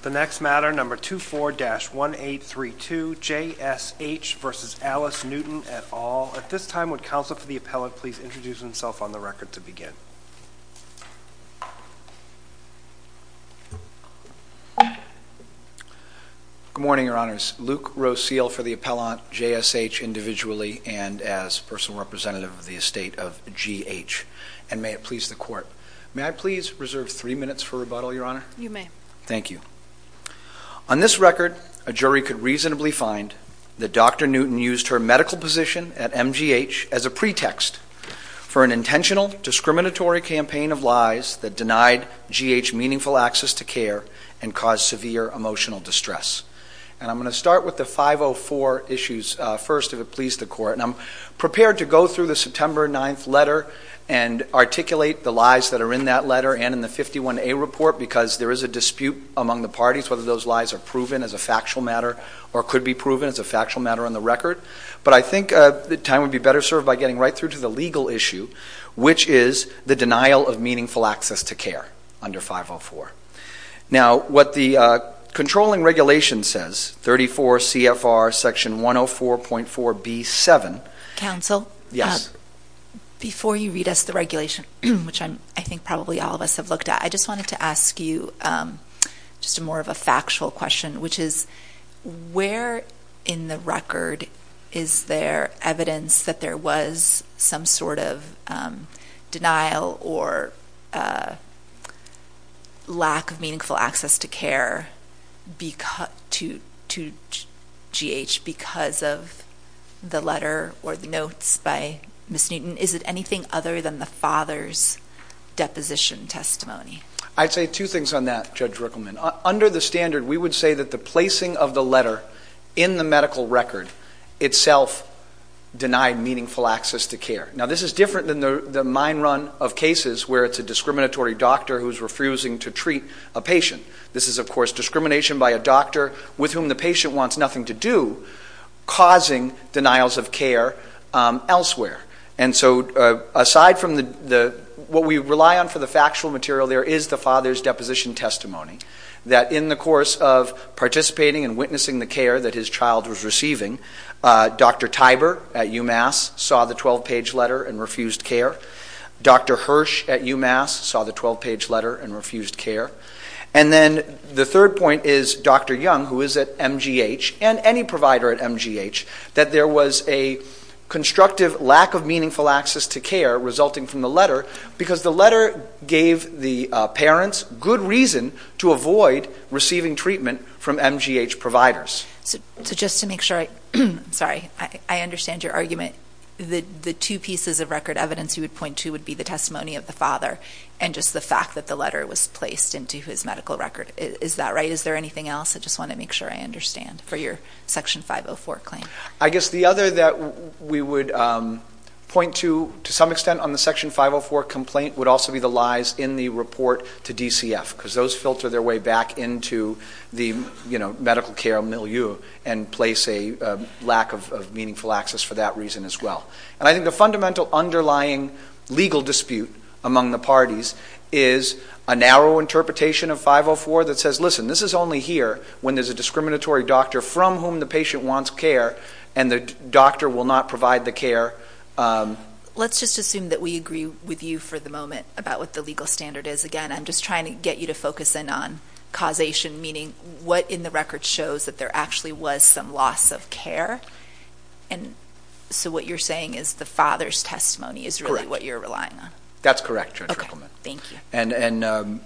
The next matter, number 24-1832, J.S.H. v. Alice Newton, et al. At this time, would Counsel for the Appellant please introduce himself on the record to begin? Good morning, Your Honors. Luke Rose Seal for the Appellant, J.S.H. individually and as personal representative of the estate of G.H. And may it please the Court, may I please reserve three minutes for rebuttal, Your Honor? You may. Thank you. On this record, a jury could reasonably find that Dr. Newton used her medical position at MGH as a pretext for an intentional, discriminatory campaign of lies that denied G.H. meaningful access to care and caused severe emotional distress. And I'm going to start with the 504 issues first, if it please the Court, and I'm prepared to go through the September 9th letter and articulate the lies that are in that letter and in the 51A report because there is a dispute among the parties whether those lies are proven as a factual matter or could be proven as a factual matter on the record. But I think the time would be better served by getting right through to the legal issue, which is the denial of meaningful access to care under 504. Now what the controlling regulation says, 34 CFR section 104.4b-7. Counsel? Yes. Before you read us the regulation, which I think probably all of us have looked at, I just wanted to ask you just more of a factual question, which is where in the record is there evidence that there was some sort of denial or lack of meaningful access to care to GH because of the letter or the notes by Ms. Newton? Is it anything other than the father's deposition testimony? I'd say two things on that, Judge Ruckelman. Under the standard, we would say that the placing of the letter in the medical record itself denied meaningful access to care. Now this is different than the mine run of cases where it's a discriminatory doctor who's refusing to treat a patient. This is, of course, discrimination by a doctor with whom the patient wants nothing to do causing denials of care elsewhere. And so aside from what we rely on for the factual material, there is the father's deposition testimony that in the course of participating and witnessing the care that his child was receiving, Dr. Tiber at UMass saw the 12-page letter and refused care. Dr. Hirsch at UMass saw the 12-page letter and refused care. And then the third point is Dr. Young, who is at MGH, and any provider at MGH, that there was a constructive lack of meaningful access to care resulting from the letter because the letter gave the parents good reason to avoid receiving treatment from MGH providers. So just to make sure, I'm sorry, I understand your argument that the two pieces of record evidence you would point to would be the testimony of the father and just the fact that the letter was placed into his medical record. Is that right? Is there anything else? I just want to make sure I understand for your Section 504 claim. I guess the other that we would point to, to some extent, on the Section 504 complaint would also be the lies in the report to DCF because those filter their way back into the medical care milieu and place a lack of meaningful access for that reason as well. And I think the fundamental underlying legal dispute among the parties is a narrow interpretation of 504 that says, listen, this is only here when there's a discriminatory doctor from whom the patient wants care and the doctor will not provide the care. Let's just assume that we agree with you for the moment about what the legal standard is. Again, I'm just trying to get you to focus in on causation, meaning what in the record shows that there actually was some loss of care. And so what you're saying is the father's testimony is really what you're relying on? That's correct, Judge Rippleman. Okay. Thank you.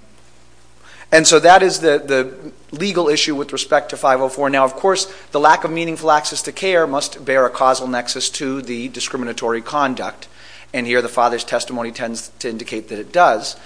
And so that is the legal issue with respect to 504. Now, of course, the lack of meaningful access to care must bear a causal nexus to the discriminatory conduct and here the father's testimony tends to indicate that it does.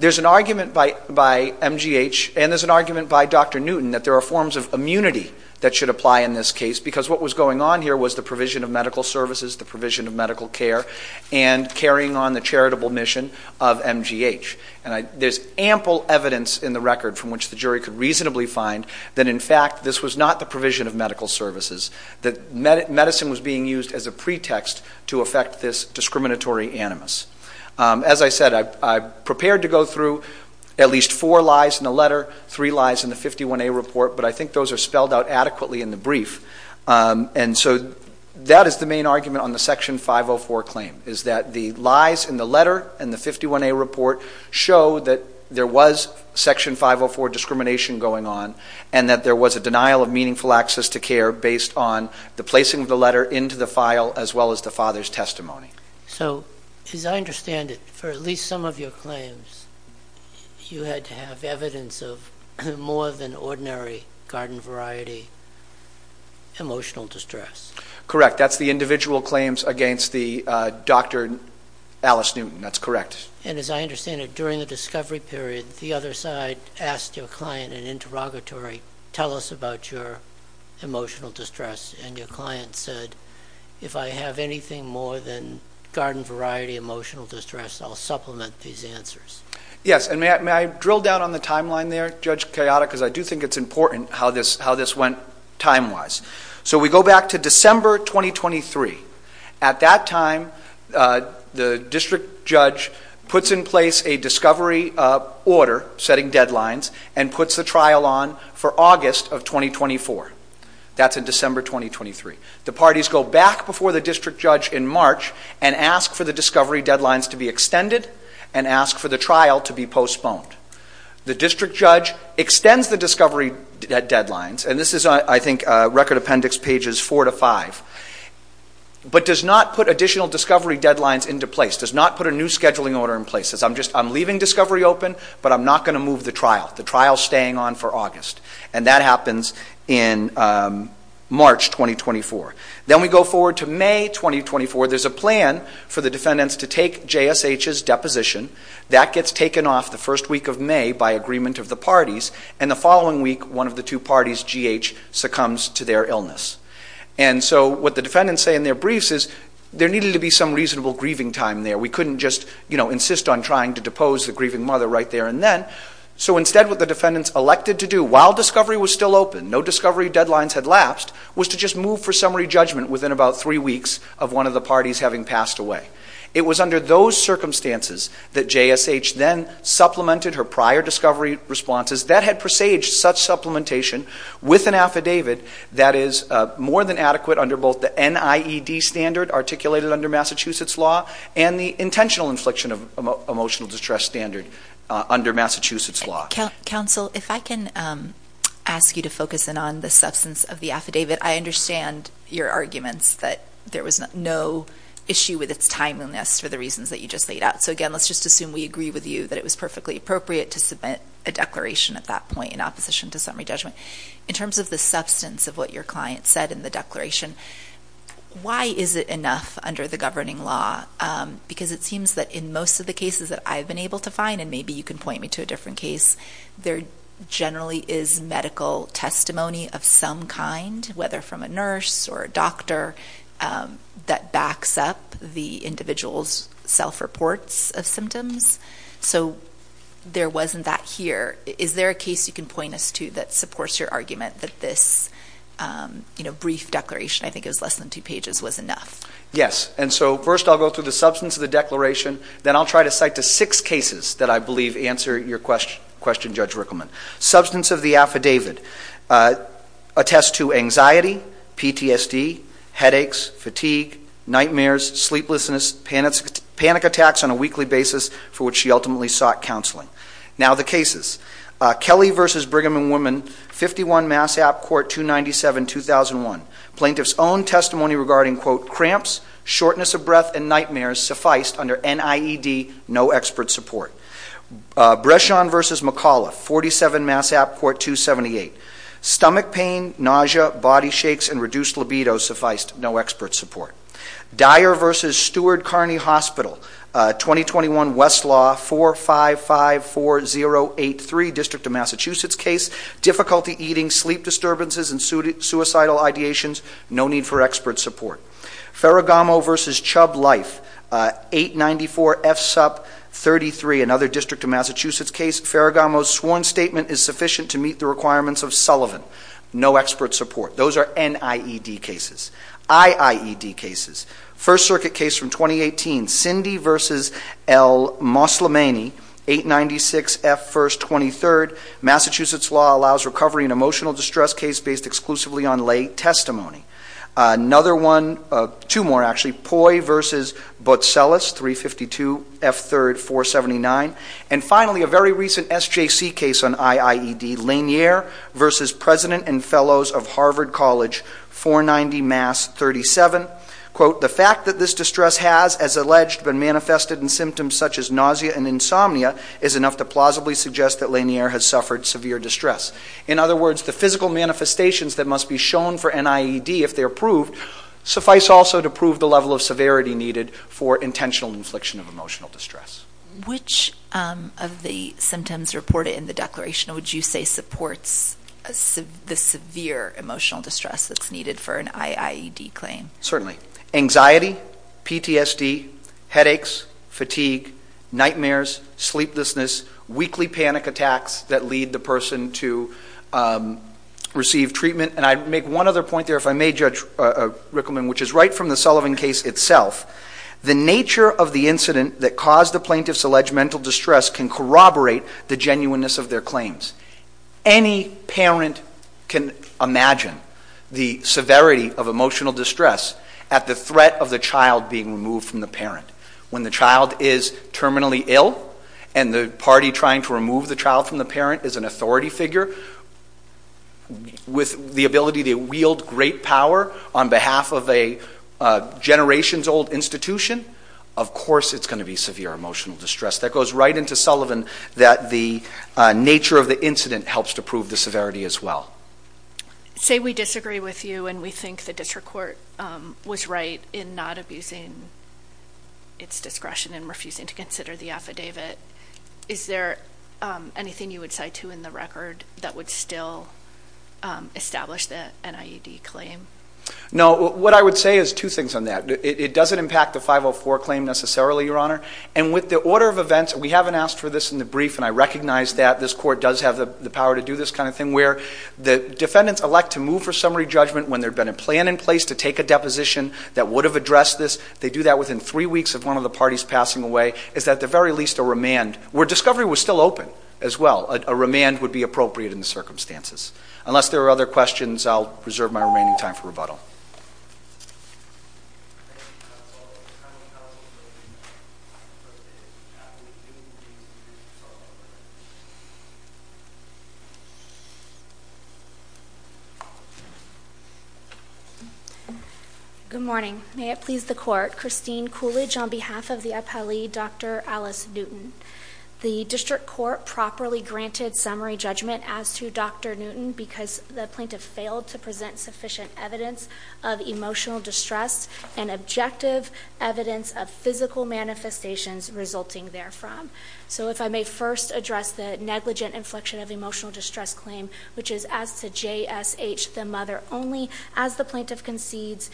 There's an argument by MGH and there's an argument by Dr. Newton that there are forms of immunity that should apply in this case because what was going on here was the provision of medical services, the provision of medical care, and carrying on the charitable mission of MGH. And there's ample evidence in the record from which the jury could reasonably find that, in fact, this was not the provision of medical services, that medicine was being used as a pretext to affect this discriminatory animus. As I said, I prepared to go through at least four lies in the letter, three lies in the 51A report, but I think those are spelled out adequately in the brief. And so that is the main argument on the Section 504 claim, is that the lies in the letter and the 51A report show that there was Section 504 discrimination going on and that there was a denial of meaningful access to care based on the placing of the letter into the file as well as the father's testimony. So as I understand it, for at least some of your claims, you had to have evidence of more than ordinary garden-variety emotional distress. Correct. That's the individual claims against the Dr. Alice Newton. That's correct. And as I understand it, during the discovery period, the other side asked your client in interrogatory, tell us about your emotional distress, and your client said, if I have anything more than garden-variety emotional distress, I'll supplement these answers. Yes. And may I drill down on the timeline there, Judge Kayada, because I do think it's important how this went time-wise. So we go back to December 2023. At that time, the district judge puts in place a discovery order setting deadlines and puts the trial on for August of 2024. That's in December 2023. The parties go back before the district judge in March and ask for the discovery deadlines to be extended and ask for the trial to be postponed. The district judge extends the discovery deadlines, and this is, I think, Record Appendix pages 4 to 5, but does not put additional discovery deadlines into place, does not put a new scheduling order in place. Says, I'm leaving discovery open, but I'm not going to move the trial. The trial's staying on for August. And that happens in March 2024. Then we go forward to May 2024. There's a plan for the defendants to take JSH's deposition. That gets taken off the first week of May by agreement of the parties. And the following week, one of the two parties, GH, succumbs to their illness. And so what the defendants say in their briefs is there needed to be some reasonable grieving time there. We couldn't just insist on trying to depose the grieving mother right there and then. So instead, what the defendants elected to do, while discovery was still open, no discovery deadlines had lapsed, was to just move for summary judgment within about three weeks of one of the parties having passed away. It was under those circumstances that JSH then supplemented her prior discovery responses that had presaged such supplementation with an affidavit that is more than adequate under both the NIED standard articulated under Massachusetts law and the intentional infliction of emotional distress standard under Massachusetts law. Counsel, if I can ask you to focus in on the substance of the affidavit, I understand your arguments that there was no issue with its timeliness for the reasons that you just laid out. So again, let's just assume we agree with you that it was perfectly appropriate to submit a declaration at that point in opposition to summary judgment. In terms of the substance of what your client said in the declaration, why is it enough under the governing law? Because it seems that in most of the cases that I've been able to find, and maybe you can point me to a different case, there generally is medical testimony of some kind, whether from a nurse or a doctor, that backs up the individual's self-reports of symptoms. So there wasn't that here. Is there a case you can point us to that supports your argument that this brief declaration, I think it was less than two pages, was enough? Yes. And so first I'll go through the substance of the declaration, then I'll try to cite the six cases that I believe answer your question, Judge Rickleman. Substance of the affidavit attests to anxiety, PTSD, headaches, fatigue, nightmares, sleeplessness, panic attacks on a weekly basis for which she ultimately sought counseling. Now the cases. Kelly v. Brigham and Women, 51 Mass. App. Court, 297-2001. Plaintiff's own testimony regarding, quote, cramps, shortness of breath, and nightmares sufficed under NIED, no expert support. Breshawn v. McCullough, 47 Mass. App. Court, 278. Stomach pain, nausea, body shakes, and reduced libido sufficed, no expert support. Dyer v. Steward Kearney Hospital, 2021 Westlaw, 4554083, District of Massachusetts case, difficulty eating, sleep disturbances, and suicidal ideations, no need for expert support. Ferragamo v. Chubb Life, 894 F. Sup. 33, another District of Massachusetts case. Ferragamo's sworn statement is sufficient to meet the requirements of Sullivan, no expert support. Those are NIED cases. IIED cases. First Circuit case from 2018, Cindy v. El Moslemany, 896 F. 1st, 23rd, Massachusetts law allows recovery in emotional distress case based exclusively on lay testimony. Another one, two more actually, Poi v. Botcellos, 352 F. 3rd, 479. And finally, a very recent SJC case on IIED, Lanier v. President and Fellows of Harvard College, 490 Mass., 37. The fact that this distress has, as alleged, been manifested in symptoms such as nausea and insomnia is enough to plausibly suggest that Lanier has suffered severe distress. In other words, the physical manifestations that must be shown for NIED if they're proved suffice also to prove the level of severity needed for intentional infliction of emotional distress. Which of the symptoms reported in the declaration would you say supports the severe emotional distress that's needed for an IIED claim? Certainly. Anxiety, PTSD, headaches, fatigue, nightmares, sleeplessness, weekly panic attacks that lead the person to receive treatment. And I make one other point there, if I may, Judge Rickleman, which is right from the Sullivan case itself. The nature of the incident that caused the plaintiff's alleged mental distress can corroborate the genuineness of their claims. Any parent can imagine the severity of emotional distress at the threat of the child being removed from the parent. When the child is terminally ill and the party trying to remove the child from the parent is an authority figure, with the ability to wield great power on behalf of a generation's old institution, of course it's going to be severe emotional distress. That goes right into Sullivan that the nature of the incident helps to prove the severity as well. Say we disagree with you and we think the district court was right in not abusing its discretion and refusing to consider the affidavit. Is there anything you would cite to in the record that would still establish the NIED claim? No. What I would say is two things on that. It doesn't impact the 504 claim necessarily, Your Honor. And with the order of events, we haven't asked for this in the brief and I recognize that this court does have the power to do this kind of thing, where the defendants elect to move for summary judgment when there had been a plan in place to take a deposition that would have addressed this, they do that within three weeks of one of the parties passing away is at the very least a remand, where discovery was still open as well, a remand would be appropriate in the circumstances. Unless there are other questions, I'll reserve my remaining time for rebuttal. Good morning. May it please the Court. I represent Christine Coolidge on behalf of the appellee, Dr. Alice Newton. The district court properly granted summary judgment as to Dr. Newton because the plaintiff failed to present sufficient evidence of emotional distress and objective evidence of physical manifestations resulting therefrom. So if I may first address the negligent inflection of emotional distress claim, which is as to G.H., the mother, only as the plaintiff concedes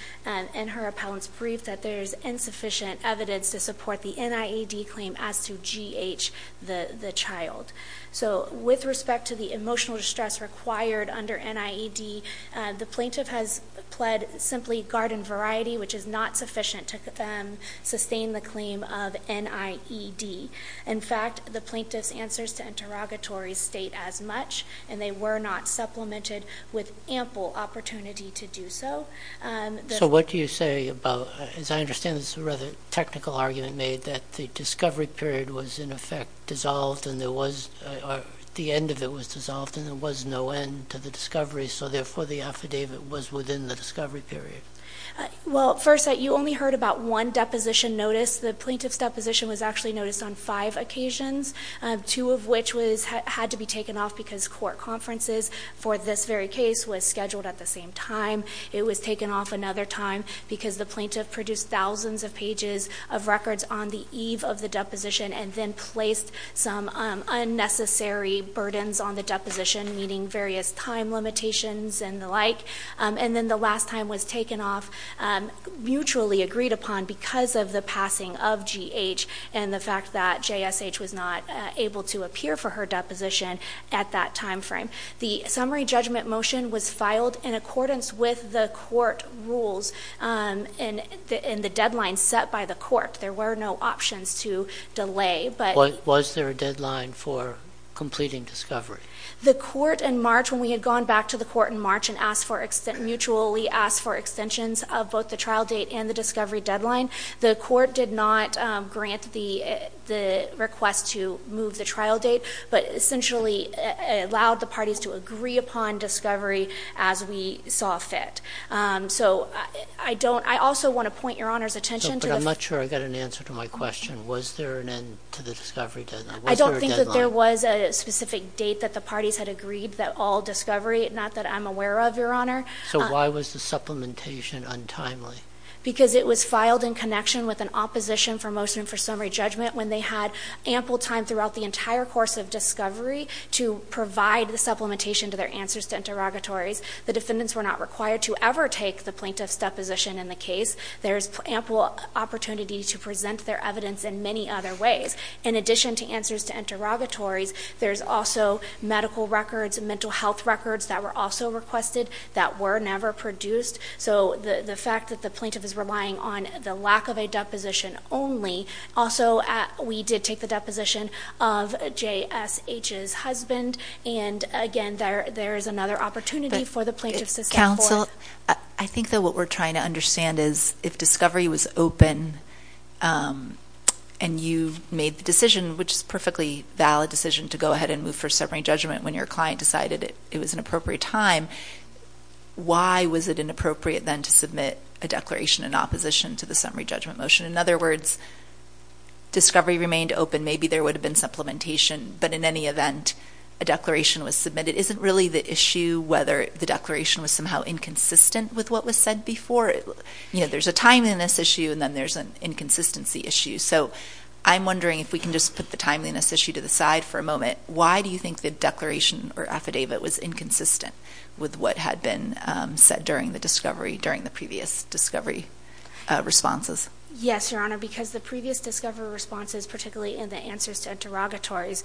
in her appellant's brief that there is insufficient evidence to support the NIED claim as to G.H., the child. So with respect to the emotional distress required under NIED, the plaintiff has pled simply garden variety, which is not sufficient to sustain the claim of NIED. In fact, the plaintiff's answers to interrogatories state as much, and they were not supplemented with ample opportunity to do so. So what do you say about, as I understand this is a rather technical argument made, that the discovery period was in effect dissolved and there was, the end of it was dissolved and there was no end to the discovery, so therefore the affidavit was within the discovery period. Well, first, you only heard about one deposition notice. The plaintiff's deposition was actually noticed on five occasions, two of which had to be taken off because court conferences for this very case was scheduled at the same time. It was taken off another time because the plaintiff produced thousands of pages of records on the eve of the deposition and then placed some unnecessary burdens on the deposition, meaning various time limitations and the like. And then the last time was taken off, mutually agreed upon because of the passing of G.H. and the fact that J.S.H. was not able to appear for her deposition at that time frame. The summary judgment motion was filed in accordance with the court rules and the deadline set by the court. There were no options to delay. Was there a deadline for completing discovery? The court in March, when we had gone back to the court in March and asked for, mutually asked for extensions of both the trial date and the discovery deadline, the court did not grant the request to move the trial date, but essentially allowed the parties to agree upon discovery as we saw fit. So I don't, I also want to point your Honor's attention to the- No, but I'm not sure I got an answer to my question. Was there an end to the discovery deadline? Was there a deadline? There was a specific date that the parties had agreed that all discovery, not that I'm aware of, Your Honor. So why was the supplementation untimely? Because it was filed in connection with an opposition for motion for summary judgment when they had ample time throughout the entire course of discovery to provide the supplementation to their answers to interrogatories. The defendants were not required to ever take the plaintiff's deposition in the case. There's ample opportunity to present their evidence in many other ways. In addition to answers to interrogatories, there's also medical records and mental health records that were also requested that were never produced. So the fact that the plaintiff is relying on the lack of a deposition only, also we did take the deposition of J.S.H.'s husband, and again, there is another opportunity for the plaintiff to step forth. But, Counsel, I think that what we're trying to understand is if discovery was open and you made the decision, which is a perfectly valid decision to go ahead and move for summary judgment when your client decided it was an appropriate time, why was it inappropriate then to submit a declaration in opposition to the summary judgment motion? In other words, discovery remained open. Maybe there would have been supplementation, but in any event, a declaration was submitted. It isn't really the issue whether the declaration was somehow inconsistent with what was said before. You know, there's a timeliness issue, and then there's an inconsistency issue. So I'm wondering if we can just put the timeliness issue to the side for a moment. Why do you think the declaration or affidavit was inconsistent with what had been said during the discovery, during the previous discovery responses? Yes, Your Honor, because the previous discovery responses, particularly in the answers to interrogatories,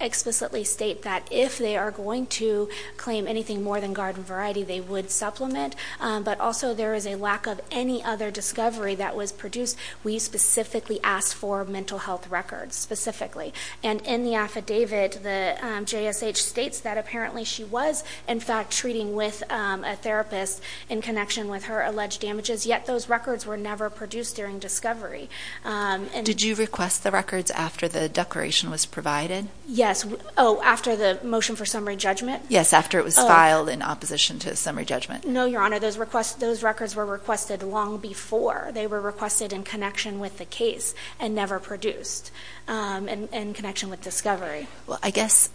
explicitly state that if they are going to claim anything more than garden variety, they would supplement, but also there is a lack of any other discovery that was produced. We specifically asked for mental health records, specifically. And in the affidavit, the JSH states that apparently she was, in fact, treating with a therapist in connection with her alleged damages, yet those records were never produced during discovery. Did you request the records after the declaration was provided? Yes. Oh, after the motion for summary judgment? Yes, after it was filed in opposition to the summary judgment. No, Your Honor. Those records were requested long before. They were requested in connection with the case and never produced, and in connection with discovery. Well, I guess,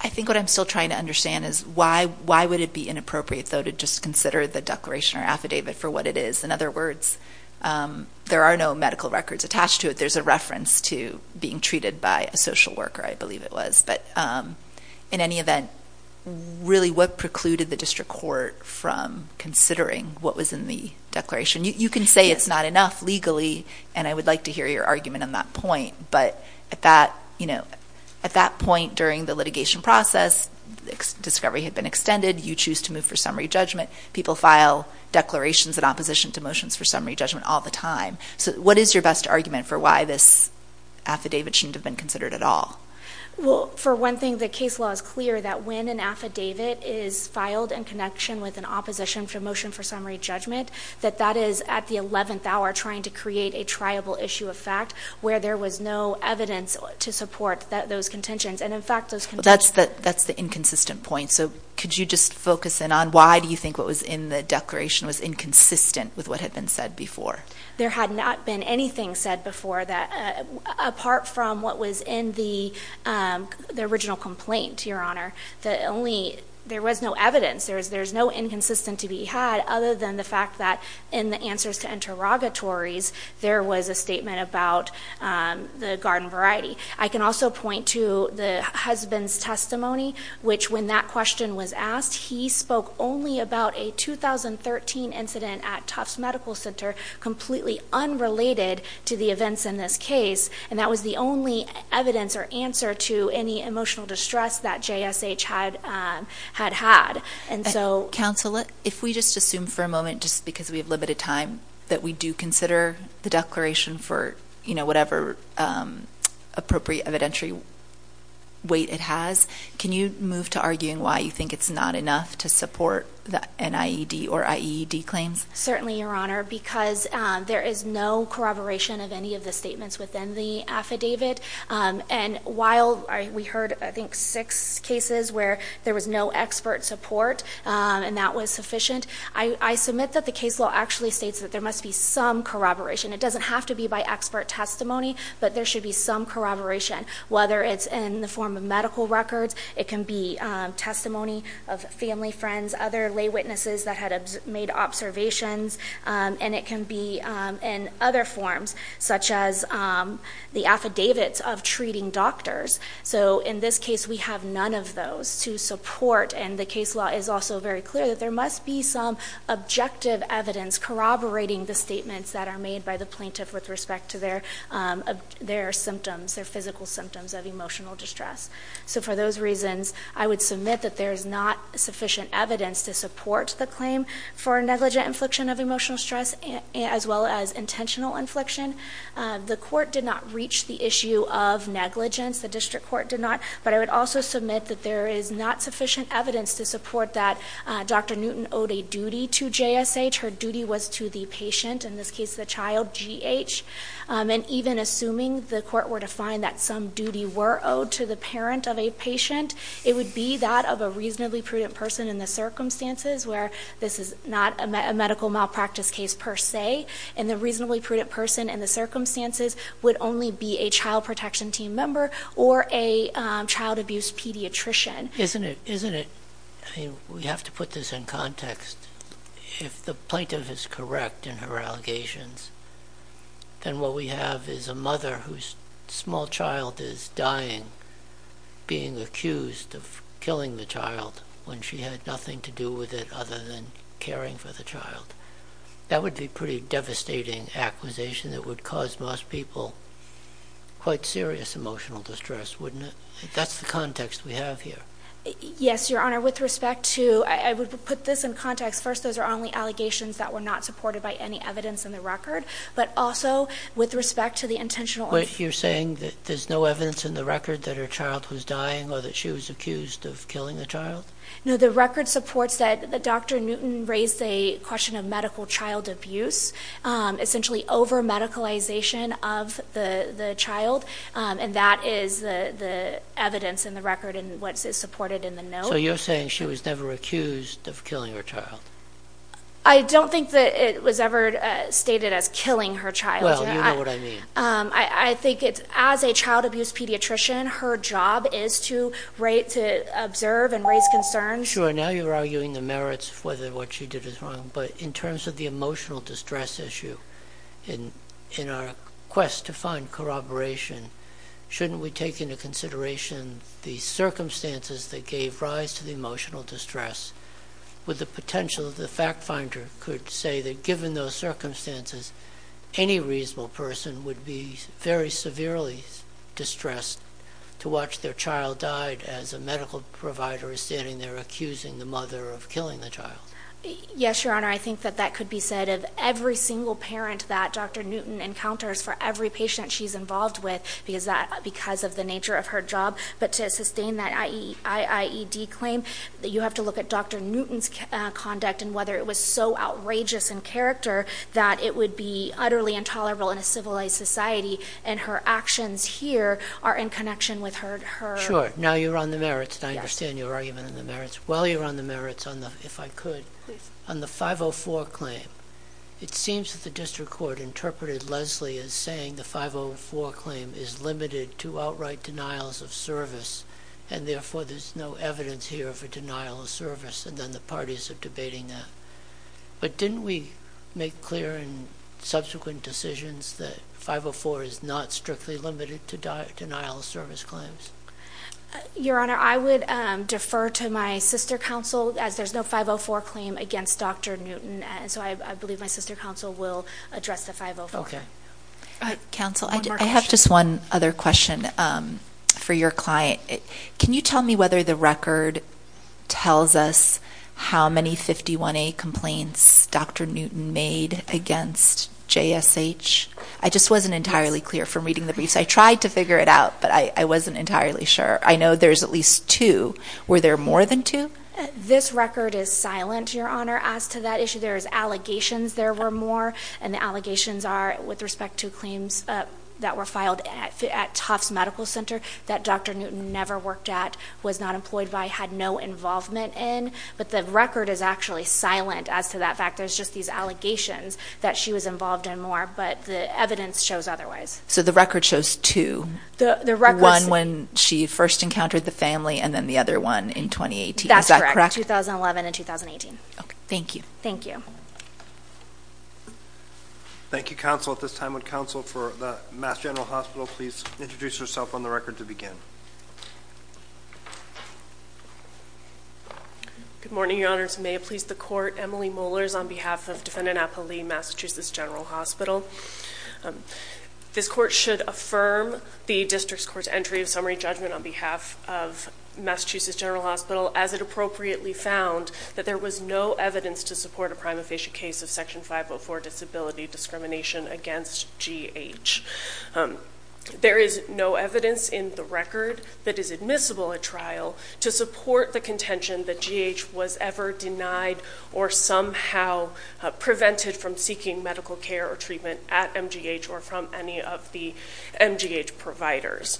I think what I'm still trying to understand is why would it be inappropriate, though, to just consider the declaration or affidavit for what it is? In other words, there are no medical records attached to it. There's a reference to being treated by a social worker, I believe it was, but in any event, really, what precluded the district court from considering what was in the declaration? You can say it's not enough legally, and I would like to hear your argument on that point, but at that, you know, at that point during the litigation process, discovery had been extended. You choose to move for summary judgment. People file declarations in opposition to motions for summary judgment all the time. So what is your best argument for why this affidavit shouldn't have been considered at all? Well, for one thing, the case law is clear that when an affidavit is filed in connection with an opposition to a motion for summary judgment, that that is at the 11th hour trying to create a triable issue of fact where there was no evidence to support those contentions. And in fact, those contentions... That's the inconsistent point. So could you just focus in on why do you think what was in the declaration was inconsistent with what had been said before? There had not been anything said before that, apart from what was in the original complaint, Your Honor. The only... There was no evidence. There's no inconsistent to be had other than the fact that in the answers to interrogatories, there was a statement about the garden variety. I can also point to the husband's testimony, which when that question was asked, he spoke only about a 2013 incident at Tufts Medical Center, completely unrelated to the events in this case. And that was the only evidence or answer to any emotional distress that JSH had had. And so... Counsel, if we just assume for a moment, just because we have limited time, that we do consider the declaration for whatever appropriate evidentiary weight it has, can you move to arguing why you think it's not enough to support the NIED or IED claims? Certainly, Your Honor, because there is no corroboration of any of the statements within the affidavit. And while we heard, I think, six cases where there was no expert support and that was sufficient, I submit that the case law actually states that there must be some corroboration. It doesn't have to be by expert testimony, but there should be some corroboration, whether it's in the form of medical records, it can be testimony of family, friends, other lay witnesses that had made observations, and it can be in other forms, such as the affidavits of treating doctors. So in this case, we have none of those to support. And the case law is also very clear that there must be some objective evidence corroborating the statements that are made by the plaintiff with respect to their symptoms, their physical symptoms of emotional distress. So for those reasons, I would submit that there is not sufficient evidence to support the claim for negligent infliction of emotional stress, as well as intentional infliction. The court did not reach the issue of negligence, the district court did not, but I would also submit that there is not sufficient evidence to support that Dr. Newton owed a duty to JSH. Her duty was to the patient, in this case, the child, GH. And even assuming the court were to find that some duty were owed to the parent of a patient, it would be that of a reasonably prudent person in the circumstances where this is not a medical malpractice case per se, and the reasonably prudent person in the circumstances would only be a child protection team member or a child abuse pediatrician. Isn't it, isn't it, I mean, we have to put this in context, if the plaintiff is correct in her allegations, then what we have is a mother whose small child is dying, being accused of killing the child when she had nothing to do with it other than caring for the child. That would be a pretty devastating acquisition that would cause most people quite serious emotional distress, wouldn't it? That's the context we have here. Yes, Your Honor, with respect to, I would put this in context, first, those are only allegations that were not supported by any evidence in the record, but also with respect to the intentional... Wait, you're saying that there's no evidence in the record that her child was dying or that she was accused of killing the child? No, the record supports that Dr. Newton raised a question of medical child abuse, essentially over-medicalization of the child, and that is the evidence in the record and what's supported in the note. So you're saying she was never accused of killing her child? I don't think that it was ever stated as killing her child, Your Honor. Well, you know what I mean. I think it's, as a child abuse pediatrician, her job is to rate, to observe and raise concern. Sure, now you're arguing the merits of whether what she did is wrong, but in terms of the emotional distress issue, in our quest to find corroboration, shouldn't we take into consideration the circumstances that gave rise to the emotional distress, with the potential that the fact finder could say that given those circumstances, any reasonable person would be very severely distressed to watch their child died as a medical provider is standing there accusing the mother of killing the child? Yes, Your Honor. I think that that could be said of every single parent that Dr. Newton encounters for every patient she's involved with, because of the nature of her job. But to sustain that IAED claim, you have to look at Dr. Newton's conduct and whether it was so outrageous in character that it would be utterly intolerable in a civilized society and her actions here are in connection with her. Sure. Now you're on the merits, and I understand your argument on the merits. While you're on the merits, if I could, on the 504 claim, it seems that the district court interpreted Leslie as saying the 504 claim is limited to outright denials of service, and therefore there's no evidence here for denial of service, and then the parties are debating that. But didn't we make clear in subsequent decisions that 504 is not strictly limited to denial of service claims? Your Honor, I would defer to my sister counsel, as there's no 504 claim against Dr. Newton, and so I believe my sister counsel will address the 504. Counsel, I have just one other question for your client. Can you tell me whether the record tells us how many 51A complaints Dr. Newton made against JSH? I just wasn't entirely clear from reading the briefs. I tried to figure it out, but I wasn't entirely sure. I know there's at least two. Were there more than two? This record is silent, Your Honor, as to that issue. There's allegations there were more, and the allegations are with respect to claims that were filed at Tufts Medical Center that Dr. Newton never worked at, was not employed by, had no involvement in, but the record is actually silent as to that fact. There's just these allegations that she was involved in more, but the evidence shows otherwise. So the record shows two, one when she first encountered the family, and then the other one in 2018. Is that correct? 2011 and 2018. Okay. Thank you. Thank you. Thank you, counsel. At this time, would counsel for the Mass General Hospital please introduce herself on the record to begin? Good morning, Your Honors, and may it please the Court, Emily Mollers on behalf of Defendant Appali, Massachusetts General Hospital. This Court should affirm the District's Court's entry of summary judgment on behalf of Massachusetts General Hospital as it appropriately found that there was no evidence to support a prima facie case of Section 504 disability discrimination against GH. There is no evidence in the record that is admissible at trial to support the contention that GH was ever denied or somehow prevented from seeking medical care or treatment at MGH or from any of the MGH providers.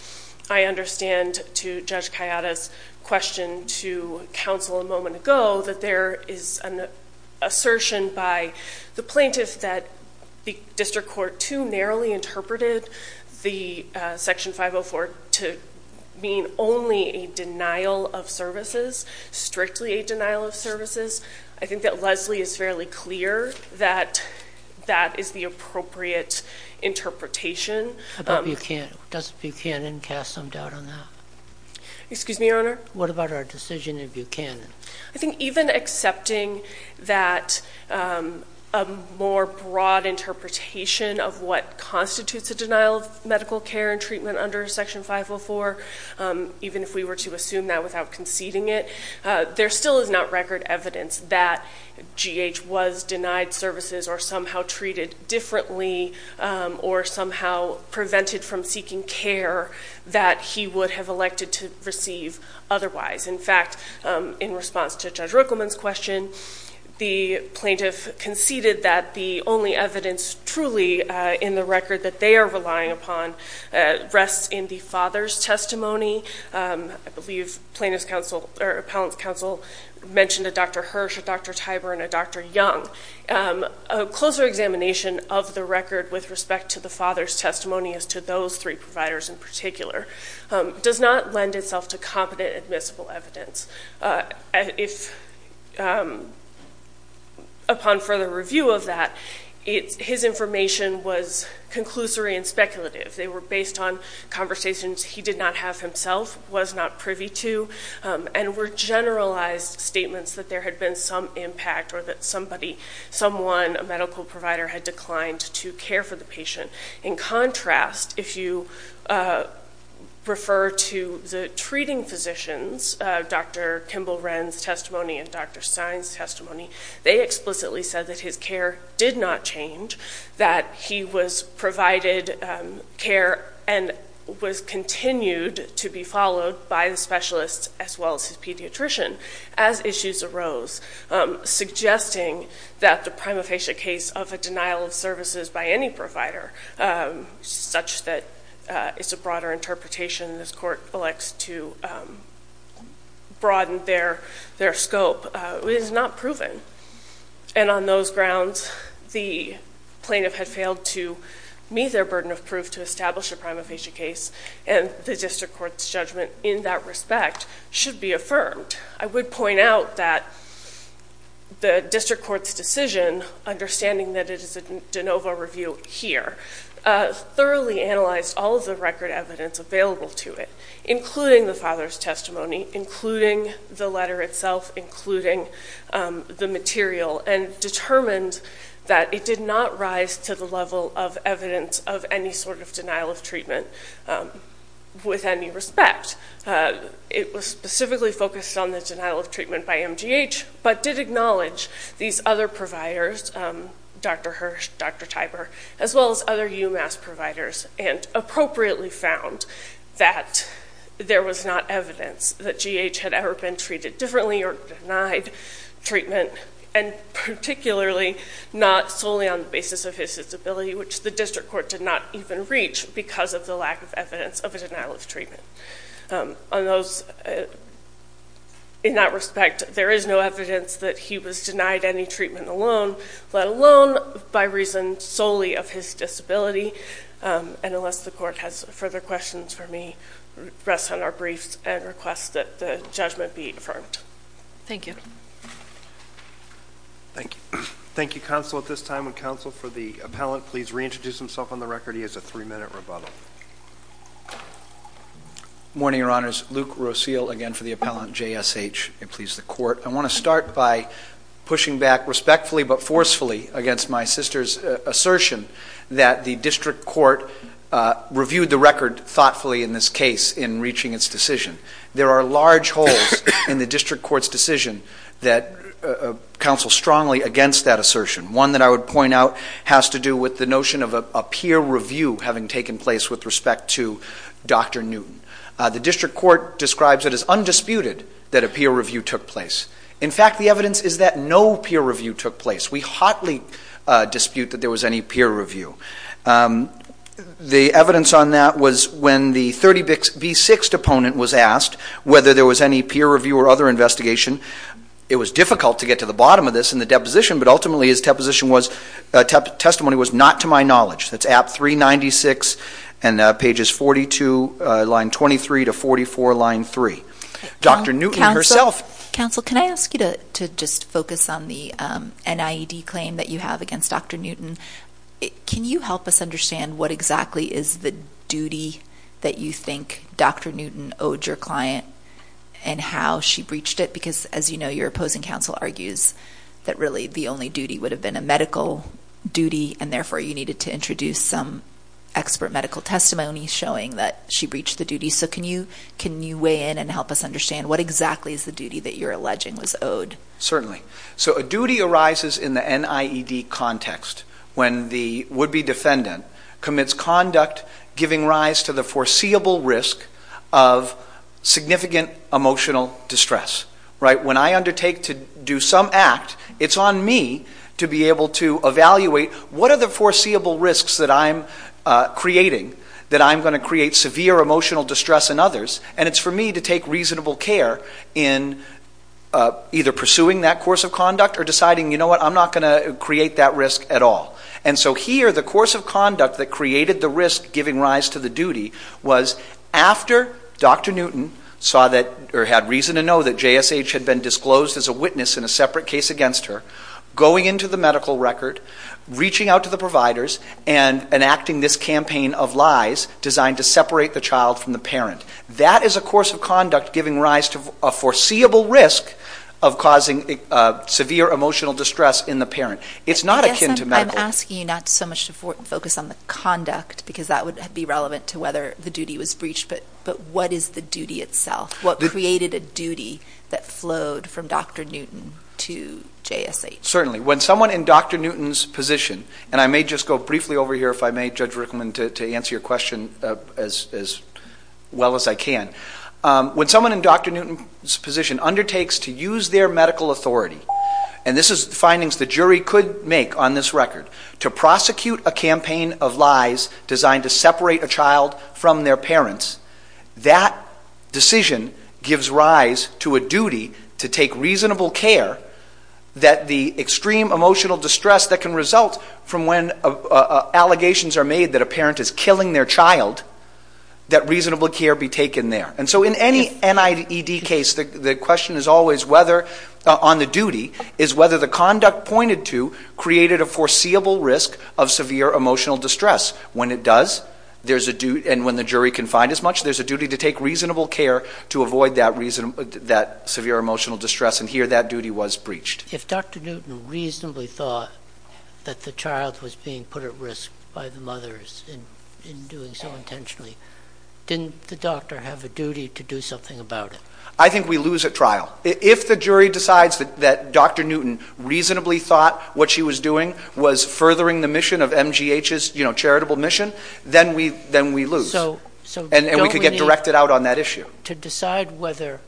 I understand to Judge Kayada's question to counsel a moment ago that there is an assertion by the plaintiff that the District Court too narrowly interpreted the Section 504 to mean only a denial of services, strictly a denial of services. I think that Leslie is fairly clear that that is the appropriate interpretation. Does Buchanan cast some doubt on that? Excuse me, Your Honor? What about our decision in Buchanan? I think even accepting that a more broad interpretation of what constitutes a denial of medical care and treatment under Section 504, even if we were to assume that without conceding it, there still is not record evidence that GH was denied services or somehow treated differently or somehow prevented from seeking care that he would have elected to receive otherwise. In fact, in response to Judge Ruckelman's question, the plaintiff conceded that the only evidence truly in the record that they are relying upon rests in the father's testimony. I believe Appellant's counsel mentioned a Dr. Hirsch, a Dr. Tiber, and a Dr. Young. A closer examination of the record with respect to the father's testimony as to those three providers in particular does not lend itself to competent admissible evidence. Upon further review of that, his information was conclusory and speculative. They were based on conversations he did not have himself, was not privy to, and were generalized statements that there had been some impact or that somebody, someone, a medical provider had declined to care for the patient. In contrast, if you refer to the treating physicians, Dr. Kimball-Wren's testimony and Dr. Stein's testimony, they explicitly said that his care did not change, that he was provided care and was continued to be followed by the specialists as well as his pediatrician as issues arose, suggesting that the prima facie case of a denial of services by any provider, such that it's a broader interpretation, this court elects to broaden their scope, is not proven. And on those grounds, the plaintiff had failed to meet their burden of proof to establish a prima facie case, and the district court's judgment in that respect should be affirmed. I would point out that the district court's decision, understanding that it is a de novo review here, thoroughly analyzed all of the record evidence available to it, including the father's testimony, including the letter itself, including the material, and determined that it did not rise to the level of evidence of any sort of denial of treatment with any respect. It was specifically focused on the denial of treatment by MGH, but did acknowledge these other providers, Dr. Hirsh, Dr. Tiber, as well as other UMass providers, and appropriately found that there was not evidence that GH had ever been treated differently or denied treatment, and particularly not solely on the basis of his disability, which the district court did not even reach because of the lack of evidence of a denial of treatment. In that respect, there is no evidence that he was denied any treatment alone, let alone by reason solely of his disability, and unless the court has further questions for me, rests on our briefs and requests that the judgment be affirmed. Thank you. Thank you, counsel. At this time, would counsel for the appellant please reintroduce himself on the record? He has a three-minute rebuttal. Good morning, Your Honors. Luke Rosile again for the appellant, J.S.H., and please the court. I want to start by pushing back respectfully but forcefully against my sister's assertion that the district court reviewed the record thoughtfully in this case in reaching its decision. There are large holes in the district court's decision that counsel strongly against that assertion. One that I would point out has to do with the notion of a peer review having taken place with respect to Dr. Newton. The district court describes it as undisputed that a peer review took place. In fact, the evidence is that no peer review took place. We hotly dispute that there was any peer review. The evidence on that was when the 30B6 opponent was asked whether there was any peer review or other investigation, it was difficult to get to the bottom of this in the deposition but ultimately his testimony was not to my knowledge. That's at 396 and pages 42, line 23 to 44, line 3. Dr. Newton herself. Counsel can I ask you to just focus on the NIED claim that you have against Dr. Newton? Can you help us understand what exactly is the duty that you think Dr. Newton owed your client and how she breached it? Because as you know, your opposing counsel argues that really the only duty would have been a medical duty and therefore you needed to introduce some expert medical testimony showing that she breached the duty. So can you weigh in and help us understand what exactly is the duty that you're alleging was owed? Certainly. So a duty arises in the NIED context when the would-be defendant commits conduct giving rise to the foreseeable risk of significant emotional distress. When I undertake to do some act, it's on me to be able to evaluate what are the foreseeable risks that I'm creating that I'm going to create severe emotional distress in others and it's for me to take reasonable care in either pursuing that course of conduct or deciding you know what, I'm not going to create that risk at all. And so here the course of conduct that created the risk giving rise to the duty was after Dr. Newton saw that or had reason to know that JSH had been disclosed as a witness in a separate case against her, going into the medical record, reaching out to the providers and enacting this campaign of lies designed to separate the child from the parent. That is a course of conduct giving rise to a foreseeable risk of causing severe emotional distress in the parent. It's not akin to medical. I'm asking you not so much to focus on the conduct because that would be relevant to whether the duty was breached but what is the duty itself? What created a duty that flowed from Dr. Newton to JSH? Certainly. When someone in Dr. Newton's position, and I may just go briefly over here if I may Judge Rickleman to answer your question as well as I can. When someone in Dr. Newton's position undertakes to use their medical authority, and this is findings the jury could make on this record, to prosecute a campaign of lies designed to separate a child from their parents, that decision gives rise to a duty to take reasonable care that the extreme emotional distress that can result from when allegations are made that a parent is killing their child, that reasonable care be taken there. And so in any NIDD case, the question is always whether, on the duty, is whether the conduct pointed to created a foreseeable risk of severe emotional distress. When it does, there's a duty, and when the jury can find as much, there's a duty to take reasonable care to avoid that severe emotional distress, and here that duty was breached. If Dr. Newton reasonably thought that the child was being put at risk by the mothers in doing so intentionally, didn't the doctor have a duty to do something about it? I think we lose at trial. If the jury decides that Dr. Newton reasonably thought what she was doing was furthering the mission of MGH's charitable mission, then we lose. And we could get directed out on that issue. To decide whether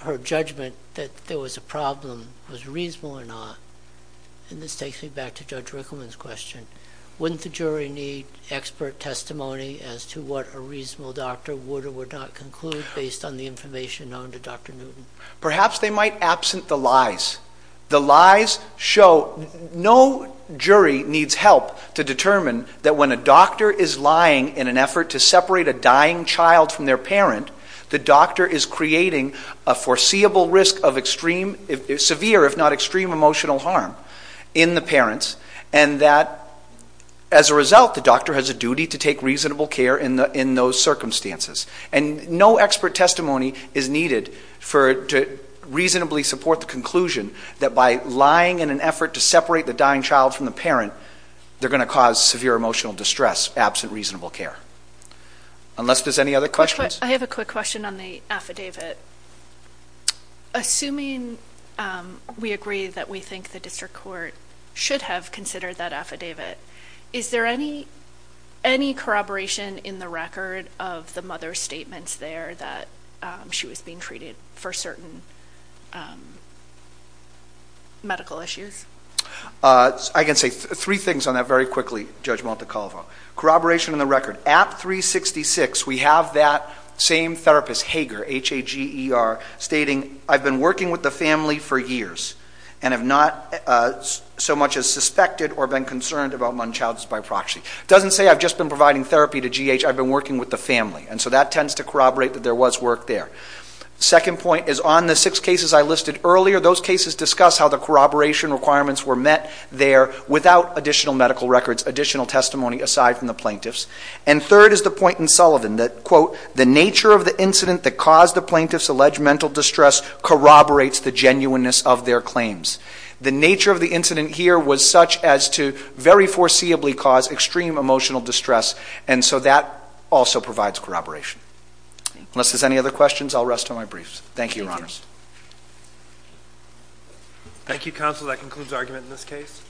her judgment that there was a problem was reasonable or not, and this takes me back to Judge Rickleman's question, wouldn't the jury need expert testimony as to what a reasonable doctor would or would not conclude based on the information known to Dr. Newton? Perhaps they might absent the lies. The lies show no jury needs help to determine that when a doctor is lying in an effort to separate a dying child from their parent, the doctor is creating a foreseeable risk of extreme, severe if not extreme emotional harm in the parents, and that as a result the doctor has a duty to take reasonable care in those circumstances. And no expert testimony is needed to reasonably support the conclusion that by lying in an effort to separate the dying child from the parent, they're going to cause severe emotional distress absent reasonable care. Unless there's any other questions? I have a quick question on the affidavit. Assuming we agree that we think the district court should have considered that affidavit, is there any corroboration in the record of the mother's statements there that she was being treated for certain medical issues? I can say three things on that very quickly, Judge Montecalvo. Corroboration in the record. At 366, we have that same therapist, Hager, H-A-G-E-R, stating, I've been working with the family for years and have not so much as suspected or been concerned about my child's by proxy. It doesn't say I've just been providing therapy to G.H., I've been working with the family. And so that tends to corroborate that there was work there. Second point is on the six cases I listed earlier. Those cases discuss how the corroboration requirements were met there without additional medical records, additional testimony aside from the plaintiffs. And third is the point in Sullivan that, quote, the nature of the incident that caused the plaintiffs' alleged mental distress corroborates the genuineness of their claims. The nature of the incident here was such as to very foreseeably cause extreme emotional distress and so that also provides corroboration. Unless there's any other questions, I'll rest on my briefs. Thank you, Your Honor. Thank you, Counsel. That concludes argument in this case.